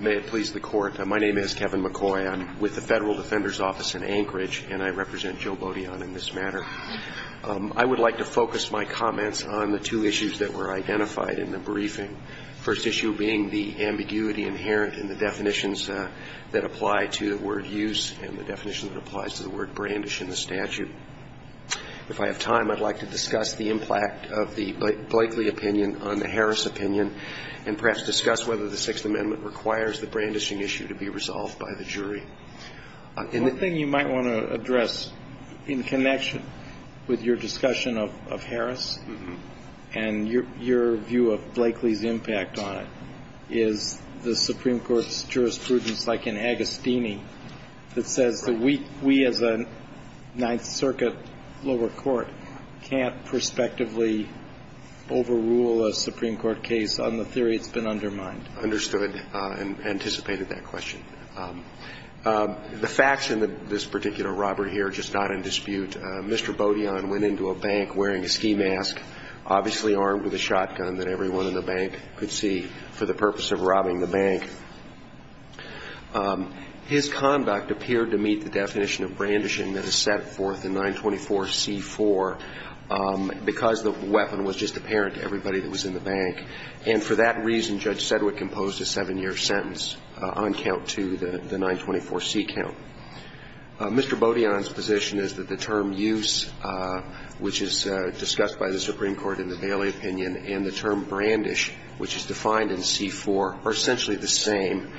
May it please the Court, my name is Kevin McCoy. I'm with the Federal Defender's Office in Anchorage, and I represent Jo Beaudion in this matter. I would like to focus my comments on the two issues that were identified in the briefing, the first issue being the ambiguity inherent in the definitions that apply to the word use and the definition that applies to the word brandish in the statute. If I have time, I'd like to discuss the impact of the Blakely opinion on the Harris opinion and perhaps discuss whether the Sixth Amendment requires the brandishing issue to be resolved by the jury. One thing you might want to address in connection with your discussion of Harris and your view of Blakely's impact on it is the Supreme Court's jurisprudence, like in Agostini, that says that we as a Ninth Circuit lower court can't prospectively overrule a Supreme Court case on the theory it's been undermined. Understood and anticipated that question. The facts in this particular robbery here are just not in dispute. Mr. Beaudion went into a bank wearing a ski mask, obviously armed with a shotgun that everyone in the bank could see for the purpose of robbing the bank. His conduct appeared to meet the definition of brandishing that is set forth in 924C4 because the weapon was just apparent to everybody that was in the bank. And for that reason, Judge Sedgwick composed a seven-year sentence on count to the 924C count. Mr. Beaudion's position is that the term use, which is discussed by the Supreme Court in the Bailey opinion, and the term brandish, which is defined in C4, are essentially the same,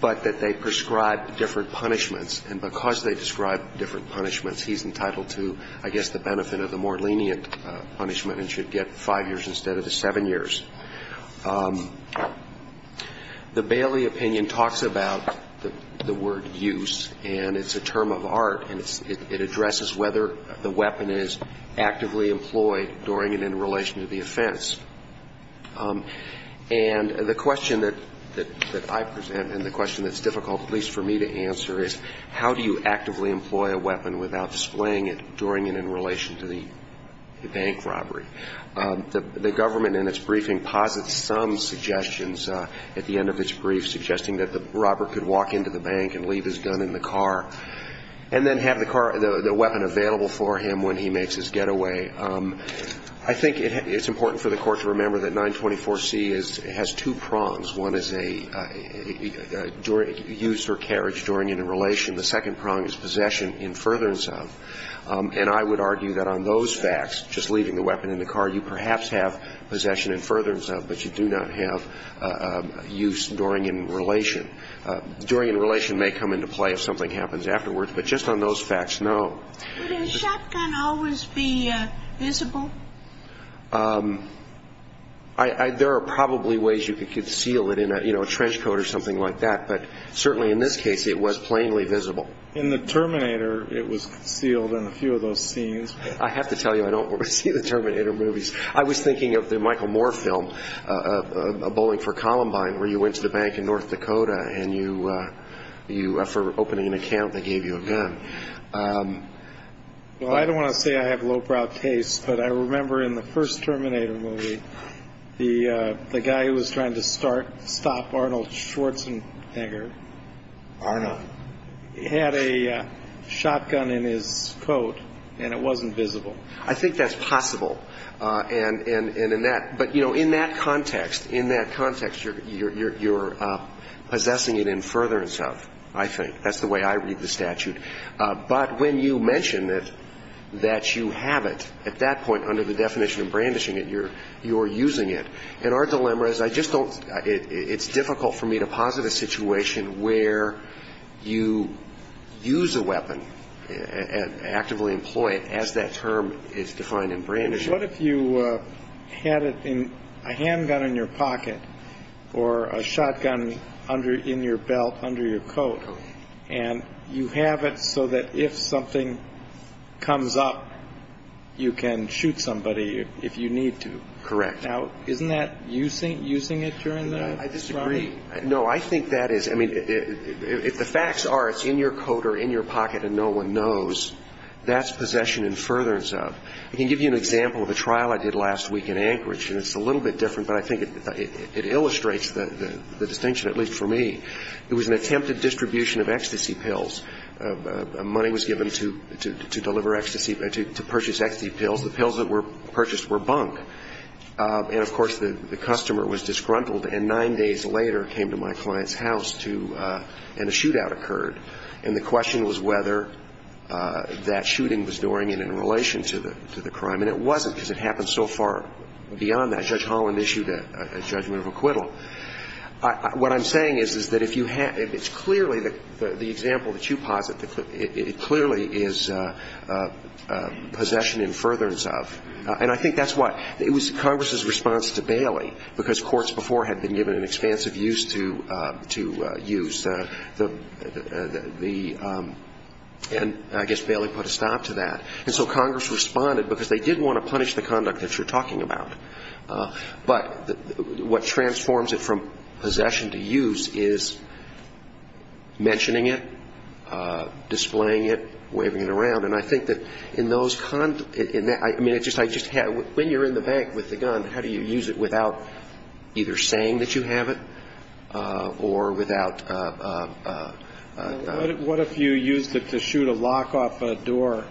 but that they prescribe different punishments. And because they describe different punishments, he's entitled to, I guess, the benefit of the more lenient punishment and should get five years instead of the seven years. The Bailey opinion talks about the word use, and it's a term of art. And it addresses whether the weapon is actively employed during and in relation to the offense. And the question that I present and the question that's difficult at least for me to answer is, how do you actively employ a weapon without displaying it during and in relation to the bank robbery? The government, in its briefing, posits some suggestions at the end of its brief, suggesting that the robber could walk into the bank and leave his gun in the car and then have the car, the weapon available for him when he makes his getaway. I think it's important for the Court to remember that 924C has two prongs. One is a use or carriage during and in relation. The second prong is possession in furtherance of. And I would argue that on those facts, just leaving the weapon in the car, you perhaps have possession in furtherance of, but you do not have use during and in relation. During and in relation may come into play if something happens afterwards. But just on those facts, no. Would a shotgun always be visible? There are probably ways you could conceal it in a trench coat or something like that. But certainly in this case, it was plainly visible. In the Terminator, it was concealed in a few of those scenes. I have to tell you, I don't see the Terminator movies. I was thinking of the Michael Moore film, Bowling for Columbine, where you went to the bank in North Dakota for opening an account. They gave you a gun. Well, I don't want to say I have lowbrow taste, but I remember in the first Terminator movie, the guy who was trying to stop Arnold Schwarzenegger had a shotgun in his coat, and it wasn't visible. I think that's possible. And in that – but, you know, in that context, in that context, you're possessing it in furtherance of, I think. That's the way I read the statute. But when you mention that you have it, at that point, under the definition of brandishing it, you're using it. And our dilemma is I just don't – it's difficult for me to posit a situation where you use a weapon and actively employ it as that term is defined in brandishing. What if you had a handgun in your pocket or a shotgun in your belt under your coat, and you have it so that if something comes up, you can shoot somebody if you need to? Correct. Now, isn't that using it during the surrounding? I disagree. No, I think that is – I mean, if the facts are it's in your coat or in your pocket and no one knows, that's possession in furtherance of. I can give you an example of a trial I did last week in Anchorage, and it's a little bit different, but I think it illustrates the distinction, at least for me. It was an attempted distribution of ecstasy pills. Money was given to deliver ecstasy – to purchase ecstasy pills. The pills that were purchased were bunk. And, of course, the customer was disgruntled and nine days later came to my client's house to – and a shootout occurred. And the question was whether that shooting was during and in relation to the crime, and it wasn't because it happened so far beyond that. Judge Holland issued a judgment of acquittal. What I'm saying is, is that if you – it's clearly – the example that you posit, it clearly is possession in furtherance of. And I think that's why – it was Congress's response to Bailey, because courts before had been given an expansive use to use the – and I guess Bailey put a stop to that. And so Congress responded because they did want to punish the conduct that you're talking about. But what transforms it from possession to use is mentioning it, displaying it, waving it around. And I think that in those – I mean, it's just – when you're in the bank with the gun, how do you use it without either saying that you have it or without – What if you used it to shoot a lock off a door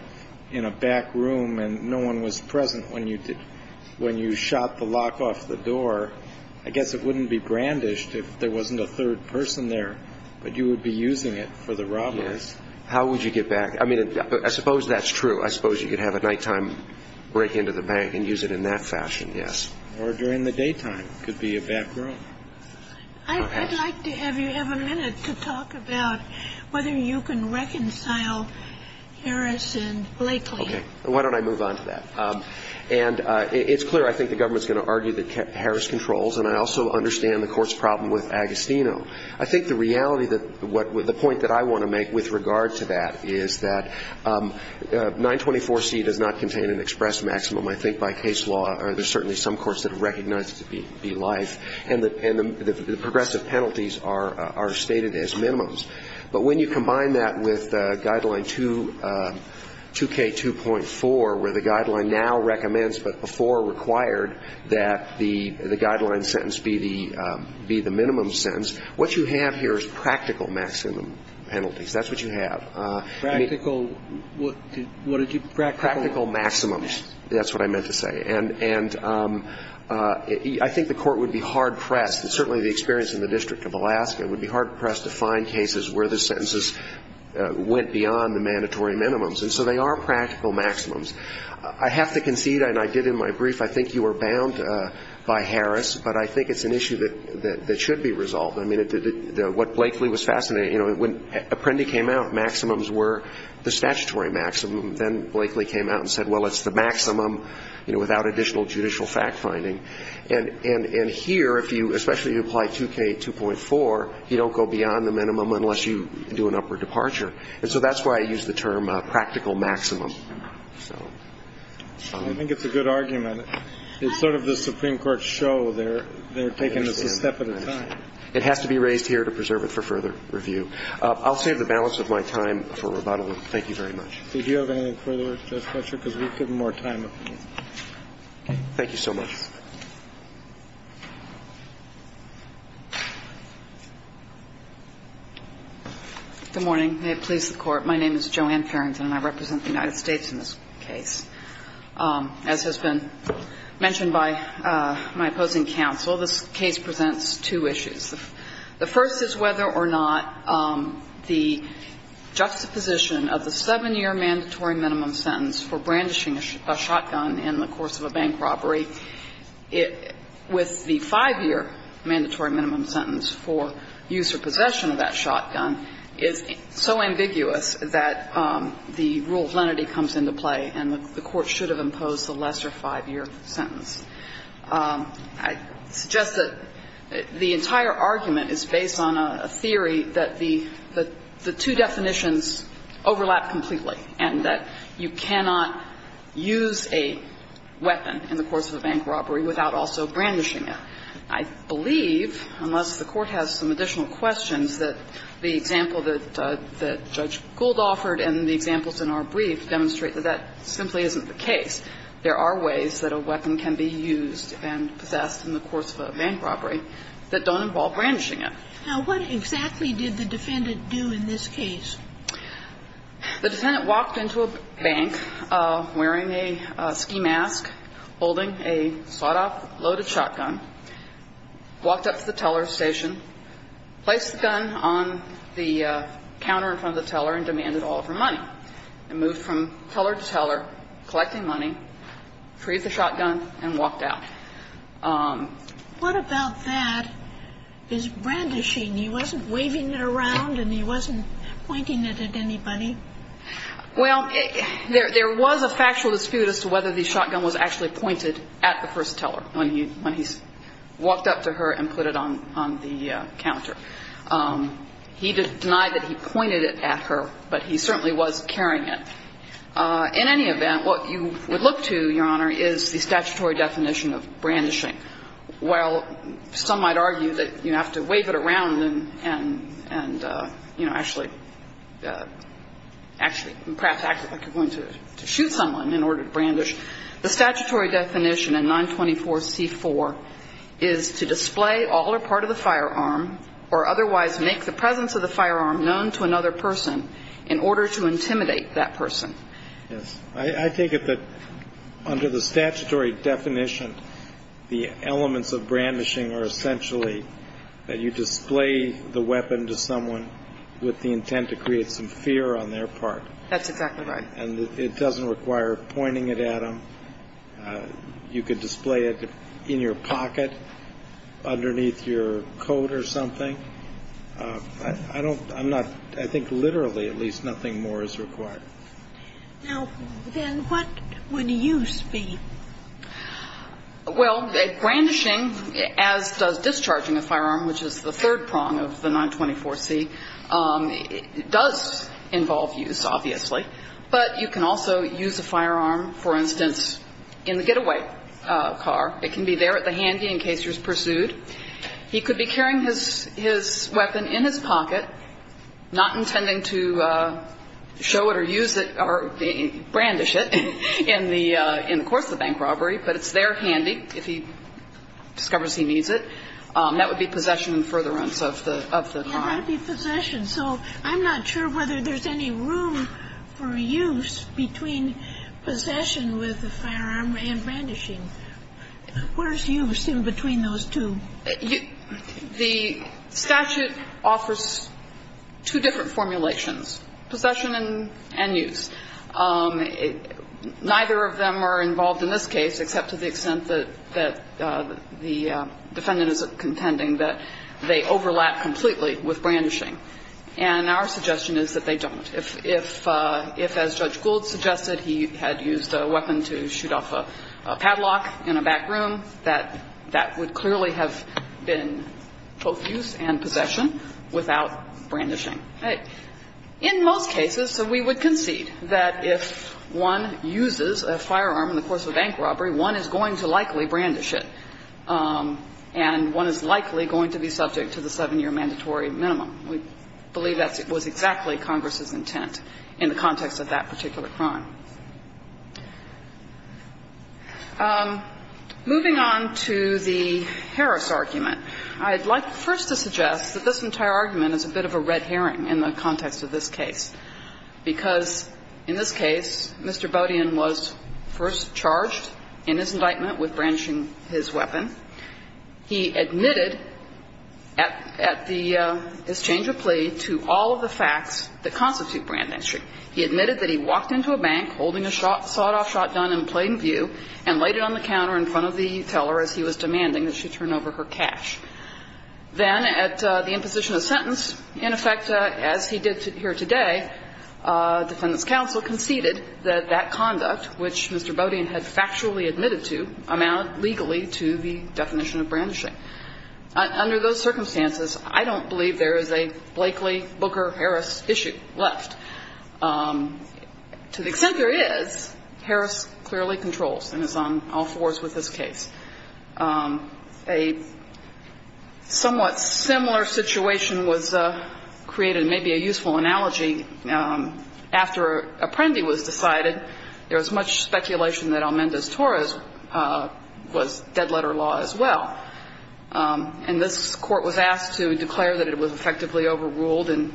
in a back room and no one was present when you shot the lock off the door? I guess it wouldn't be brandished if there wasn't a third person there, but you would be using it for the robberies. Yes. How would you get back – I mean, I suppose that's true. I suppose you could have a nighttime break into the bank and use it in that fashion, yes. Or during the daytime. It could be a back room. I'd like to have you have a minute to talk about whether you can reconcile Harris and Blakely. Okay. Why don't I move on to that? And it's clear I think the government's going to argue that Harris controls, and I also understand the court's problem with Agostino. I think the reality that – the point that I want to make with regard to that is that 924C does not contain an express maximum. I think by case law there's certainly some courts that recognize it to be life, and the progressive penalties are stated as minimums. But when you combine that with Guideline 2K2.4, where the Guideline now recommends, but before required that the Guideline sentence be the minimum sentence, what you have here is practical maximum penalties. That's what you have. Practical – what did you – practical? Practical maximums. That's what I meant to say. And I think the Court would be hard-pressed, and certainly the experience in the District of Alaska would be hard-pressed to find cases where the sentences went beyond the mandatory minimums. And so they are practical maximums. I have to concede, and I did in my brief, I think you were bound by Harris, but I think it's an issue that should be resolved. I mean, what Blakely was fascinated – you know, when Apprendi came out, maximums were the statutory maximum. Then Blakely came out and said, well, it's the maximum, you know, without additional judicial fact-finding. And here, if you – especially if you apply 2K2.4, you don't go beyond the minimum unless you do an upward departure. And so that's why I use the term practical maximum. So – I think it's a good argument. It's sort of the Supreme Court show they're taking this a step at a time. It has to be raised here to preserve it for further review. I'll save the balance of my time for rebuttal. Thank you very much. Did you have anything further, Justice Fletcher? Because we've given more time. Thank you so much. Good morning. May it please the Court. My name is Joanne Farrington, and I represent the United States in this case. As has been mentioned by my opposing counsel, this case presents two issues. The first is whether or not the juxtaposition of the 7-year mandatory minimum sentence for brandishing a shotgun in the course of a bank robbery with the 5-year mandatory minimum sentence for use or possession of that shotgun is so ambiguous that the rule of lenity comes into play and the Court should have imposed a lesser 5-year sentence. I suggest that the entire argument is based on a theory that the two definitions overlap completely and that you cannot use a weapon in the course of a bank robbery without also brandishing it. I believe, unless the Court has some additional questions, that the example that Judge Gould offered and the examples in our brief demonstrate that that simply isn't the case. There are ways that a weapon can be used and possessed in the course of a bank robbery that don't involve brandishing it. Now, what exactly did the defendant do in this case? The defendant walked into a bank wearing a ski mask, holding a sawed-off loaded shotgun, walked up to the teller's station, placed the gun on the counter in front of the teller and demanded all of her money, and moved from teller to teller, collecting money, freed the shotgun, and walked out. What about that is brandishing? He wasn't waving it around and he wasn't pointing it at anybody? Well, there was a factual dispute as to whether the shotgun was actually pointed at the first teller when he walked up to her and put it on the counter. He denied that he pointed it at her, but he certainly was carrying it. In any event, what you would look to, Your Honor, is the statutory definition of brandishing. While some might argue that you have to wave it around and, you know, actually perhaps act like you're going to shoot someone in order to brandish, the statutory definition in 924C4 is to display all or part of the firearm or otherwise make the presence of the firearm known to another person in order to intimidate that person. Yes. I take it that under the statutory definition, the elements of brandishing are essentially that you display the weapon to someone with the intent to create some fear on their part. That's exactly right. And it doesn't require pointing it at them. You could display it in your pocket underneath your coat or something. I don't ñ I'm not ñ I think literally at least nothing more is required. Now, then what would use be? Well, brandishing, as does discharging a firearm, which is the third prong of the 924C, does involve use, obviously. But you can also use a firearm, for instance, in the getaway car. It can be there at the handy in case you're pursued. He could be carrying his weapon in his pocket, not intending to show it or use it or brandish it in the course of a bank robbery, but it's there handy if he discovers he needs it. That would be possession and furtherance of the crime. That would be possession. So I'm not sure whether there's any room for use between possession with a firearm and brandishing. Where's use in between those two? The statute offers two different formulations, possession and use. Neither of them are involved in this case except to the extent that the defendant is contending that they overlap completely with brandishing. And our suggestion is that they don't. If, as Judge Gould suggested, he had used a weapon to shoot off a padlock in a back room, that would clearly have been both use and possession without brandishing. In most cases, we would concede that if one uses a firearm in the course of a bank robbery, one is going to likely brandish it. And one is likely going to be subject to the 7-year mandatory minimum. We believe that was exactly Congress's intent in the context of that particular crime. Moving on to the Harris argument, I'd like first to suggest that this entire argument is a bit of a red herring in the context of this case, because in this case, Mr. Bodian was first charged in his indictment with brandishing his weapon. He admitted at the exchange of plea to all of the facts that constitute brandishing. He admitted that he walked into a bank holding a sawed-off shotgun in plain view and laid it on the counter in front of the teller as he was demanding that she turn over her cash. Then at the imposition of sentence, in effect, as he did here today, defendant's testimony indicated that that conduct, which Mr. Bodian had factually admitted to, amounted legally to the definition of brandishing. Under those circumstances, I don't believe there is a Blakely-Booker-Harris issue left. To the extent there is, Harris clearly controls and is on all fours with this case. A somewhat similar situation was created, maybe a useful analogy. After Apprendi was decided, there was much speculation that Almendez-Torres was dead-letter law as well. And this Court was asked to declare that it was effectively overruled, and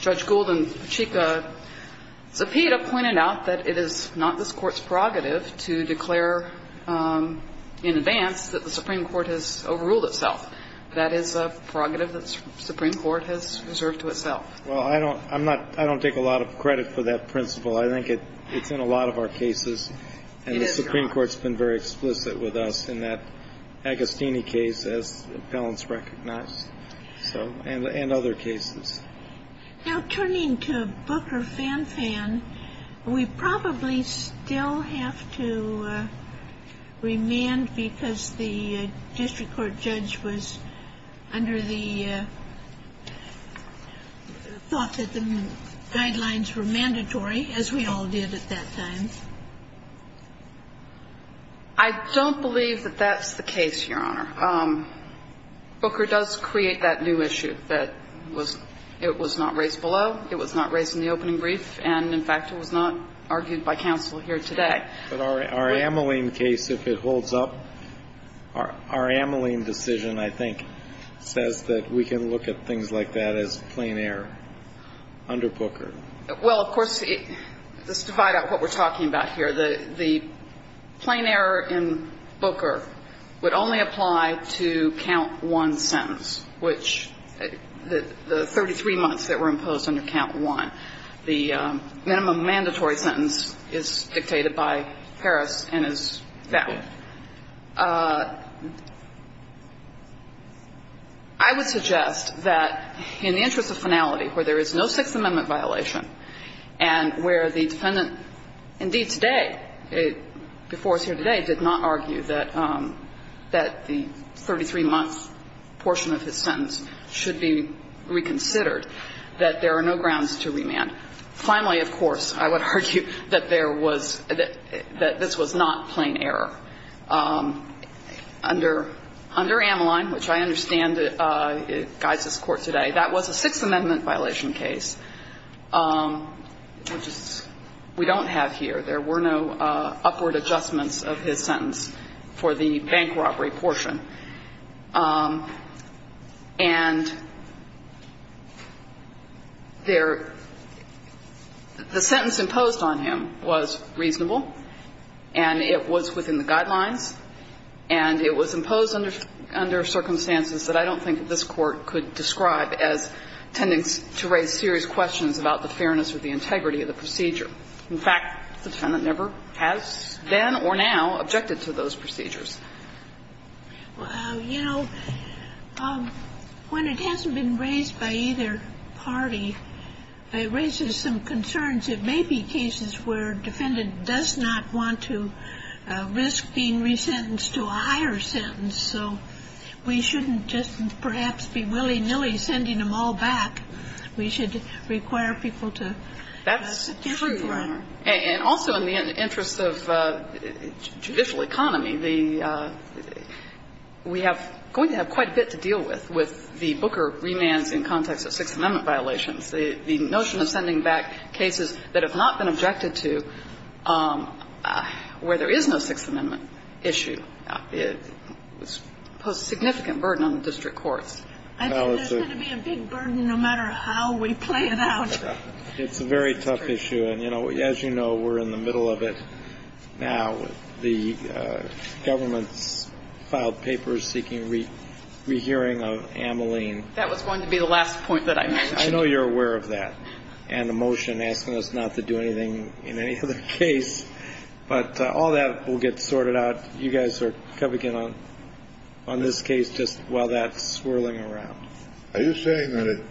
Judge Gould and Pacheco-Zapita pointed out that it is not this Court's prerogative to declare in advance that the Supreme Court has overruled itself. That is a prerogative that the Supreme Court has reserved to itself. Well, I don't take a lot of credit for that principle. I think it's in a lot of our cases. It is, Your Honor. And the Supreme Court's been very explicit with us in that Agostini case, as the appellants recognized, so, and other cases. Now, turning to Booker-Fan-Fan, we probably still have to remand because the district court judge was under the thought that the guidelines were mandatory, as we all did at that time. I don't believe that that's the case, Your Honor. Booker does create that new issue that was, it was not raised below, it was not raised in the opening brief, and, in fact, it was not argued by counsel here today. But our Ameline case, if it holds up, our Ameline decision, I think, says that we can look at things like that as plain error under Booker. Well, of course, let's divide up what we're talking about here. The plain error in Booker would only apply to count one sentence, which the 33 months that were imposed under count one, the minimum mandatory sentence is dictated by Paris and is that one. I would suggest that in the interest of finality, where there is no Sixth Amendment violation, and where the defendant, indeed today, before us here today, did not argue that the 33-month portion of his sentence should be reconsidered, that there are no grounds to remand. Finally, of course, I would argue that there was, that this was not plain error. Under Ameline, which I understand guides this Court today, that was a Sixth Amendment violation case, which we don't have here. There were no upward adjustments of his sentence for the bank robbery portion. And there, the sentence imposed on him was reasonable and it was within the guidelines and it was imposed under circumstances that I don't think this Court could describe as tending to raise serious questions about the fairness or the integrity of the procedure. In fact, the defendant never has, then or now, objected to those procedures. Well, you know, when it hasn't been raised by either party, it raises some concerns. It may be cases where a defendant does not want to risk being resentenced to a higher sentence, so we shouldn't just perhaps be willy-nilly sending them all back. We should require people to give them to him. That's true, Your Honor. And also in the interest of judicial economy, the we have going to have quite a bit to deal with, with the Booker remands in context of Sixth Amendment violations. The notion of sending back cases that have not been objected to where there is no Sixth Amendment violation is a significant burden on the district courts. I think there's going to be a big burden no matter how we play it out. It's a very tough issue. And, you know, as you know, we're in the middle of it now. The government's filed papers seeking rehearing of Ameline. That was going to be the last point that I mentioned. I know you're aware of that and the motion asking us not to do anything in any other case. But all that will get sorted out. You guys are coming in on this case just while that's swirling around. Are you saying that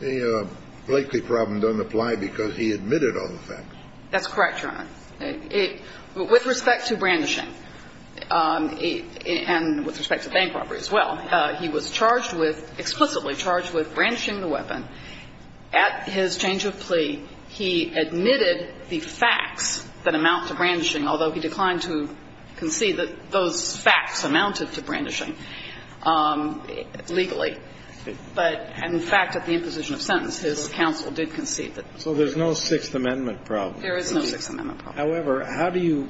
the Blakeley problem doesn't apply because he admitted all the facts? That's correct, Your Honor. With respect to brandishing and with respect to bank robbery as well, he was charged with, explicitly charged with brandishing the weapon. At his change of plea, he admitted the facts that amount to brandishing, although he declined to concede that those facts amounted to brandishing legally. But in fact, at the imposition of sentence, his counsel did concede that. So there's no Sixth Amendment problem. There is no Sixth Amendment problem. However, how do you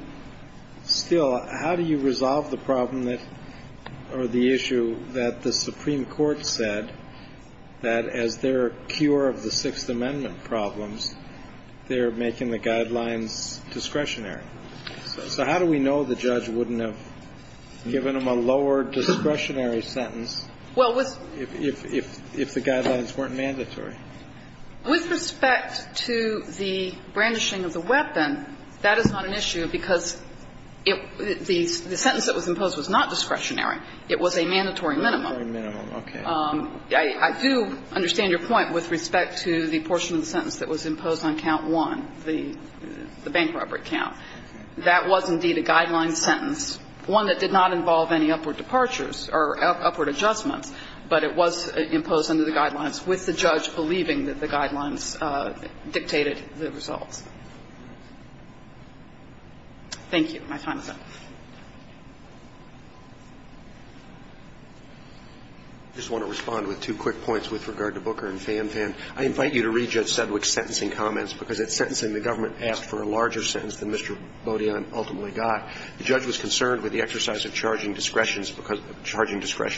still – how do you resolve the problem that – or the issue that the Supreme Court said that as their cure of the Sixth Amendment problems, they're making the guidelines discretionary? So how do we know the judge wouldn't have given him a lower discretionary sentence if the guidelines weren't mandatory? With respect to the brandishing of the weapon, that is not an issue because the sentence that was imposed was not discretionary. It was a mandatory minimum. Mandatory minimum, okay. I do understand your point with respect to the portion of the sentence that was imposed on count one, the bank robbery count. That was indeed a guideline sentence, one that did not involve any upward departures or upward adjustments, but it was imposed under the guidelines, with the judge believing that the guidelines dictated the results. Thank you. My time is up. I just want to respond with two quick points with regard to Booker and Fanfan. I invite you to read Judge Sedgwick's sentencing comments because at sentencing the government asked for a larger sentence than Mr. Bodian ultimately got. The judge was concerned with the exercise of charging discretion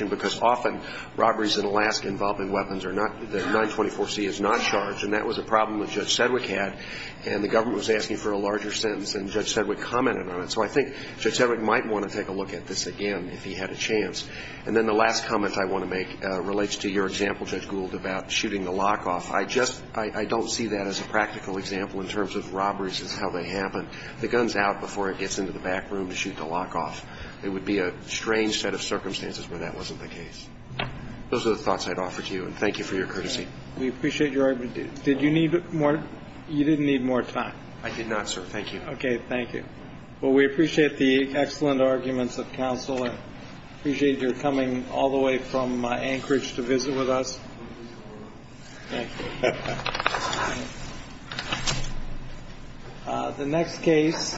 because often robberies in Alaska involving weapons are not – the 924C is not charged, and that was a problem that Judge Sedgwick had. And the government was asking for a larger sentence, and Judge Sedgwick commented on it. So I think Judge Sedgwick might want to take a look at this again if he had a chance. And then the last comment I want to make relates to your example, Judge Gould, about shooting the lock-off. I just – I don't see that as a practical example in terms of robberies is how they happen. The gun's out before it gets into the back room to shoot the lock-off. It would be a strange set of circumstances where that wasn't the case. Those are the thoughts I'd offer to you, and thank you for your courtesy. We appreciate your – did you need more – you didn't need more time. I did not, sir. Thank you. Okay. Thank you. Well, we appreciate the excellent arguments of counsel and appreciate your coming all the way from Anchorage to visit with us. Thank you. Thank you. Thank you. Thank you. Thank you.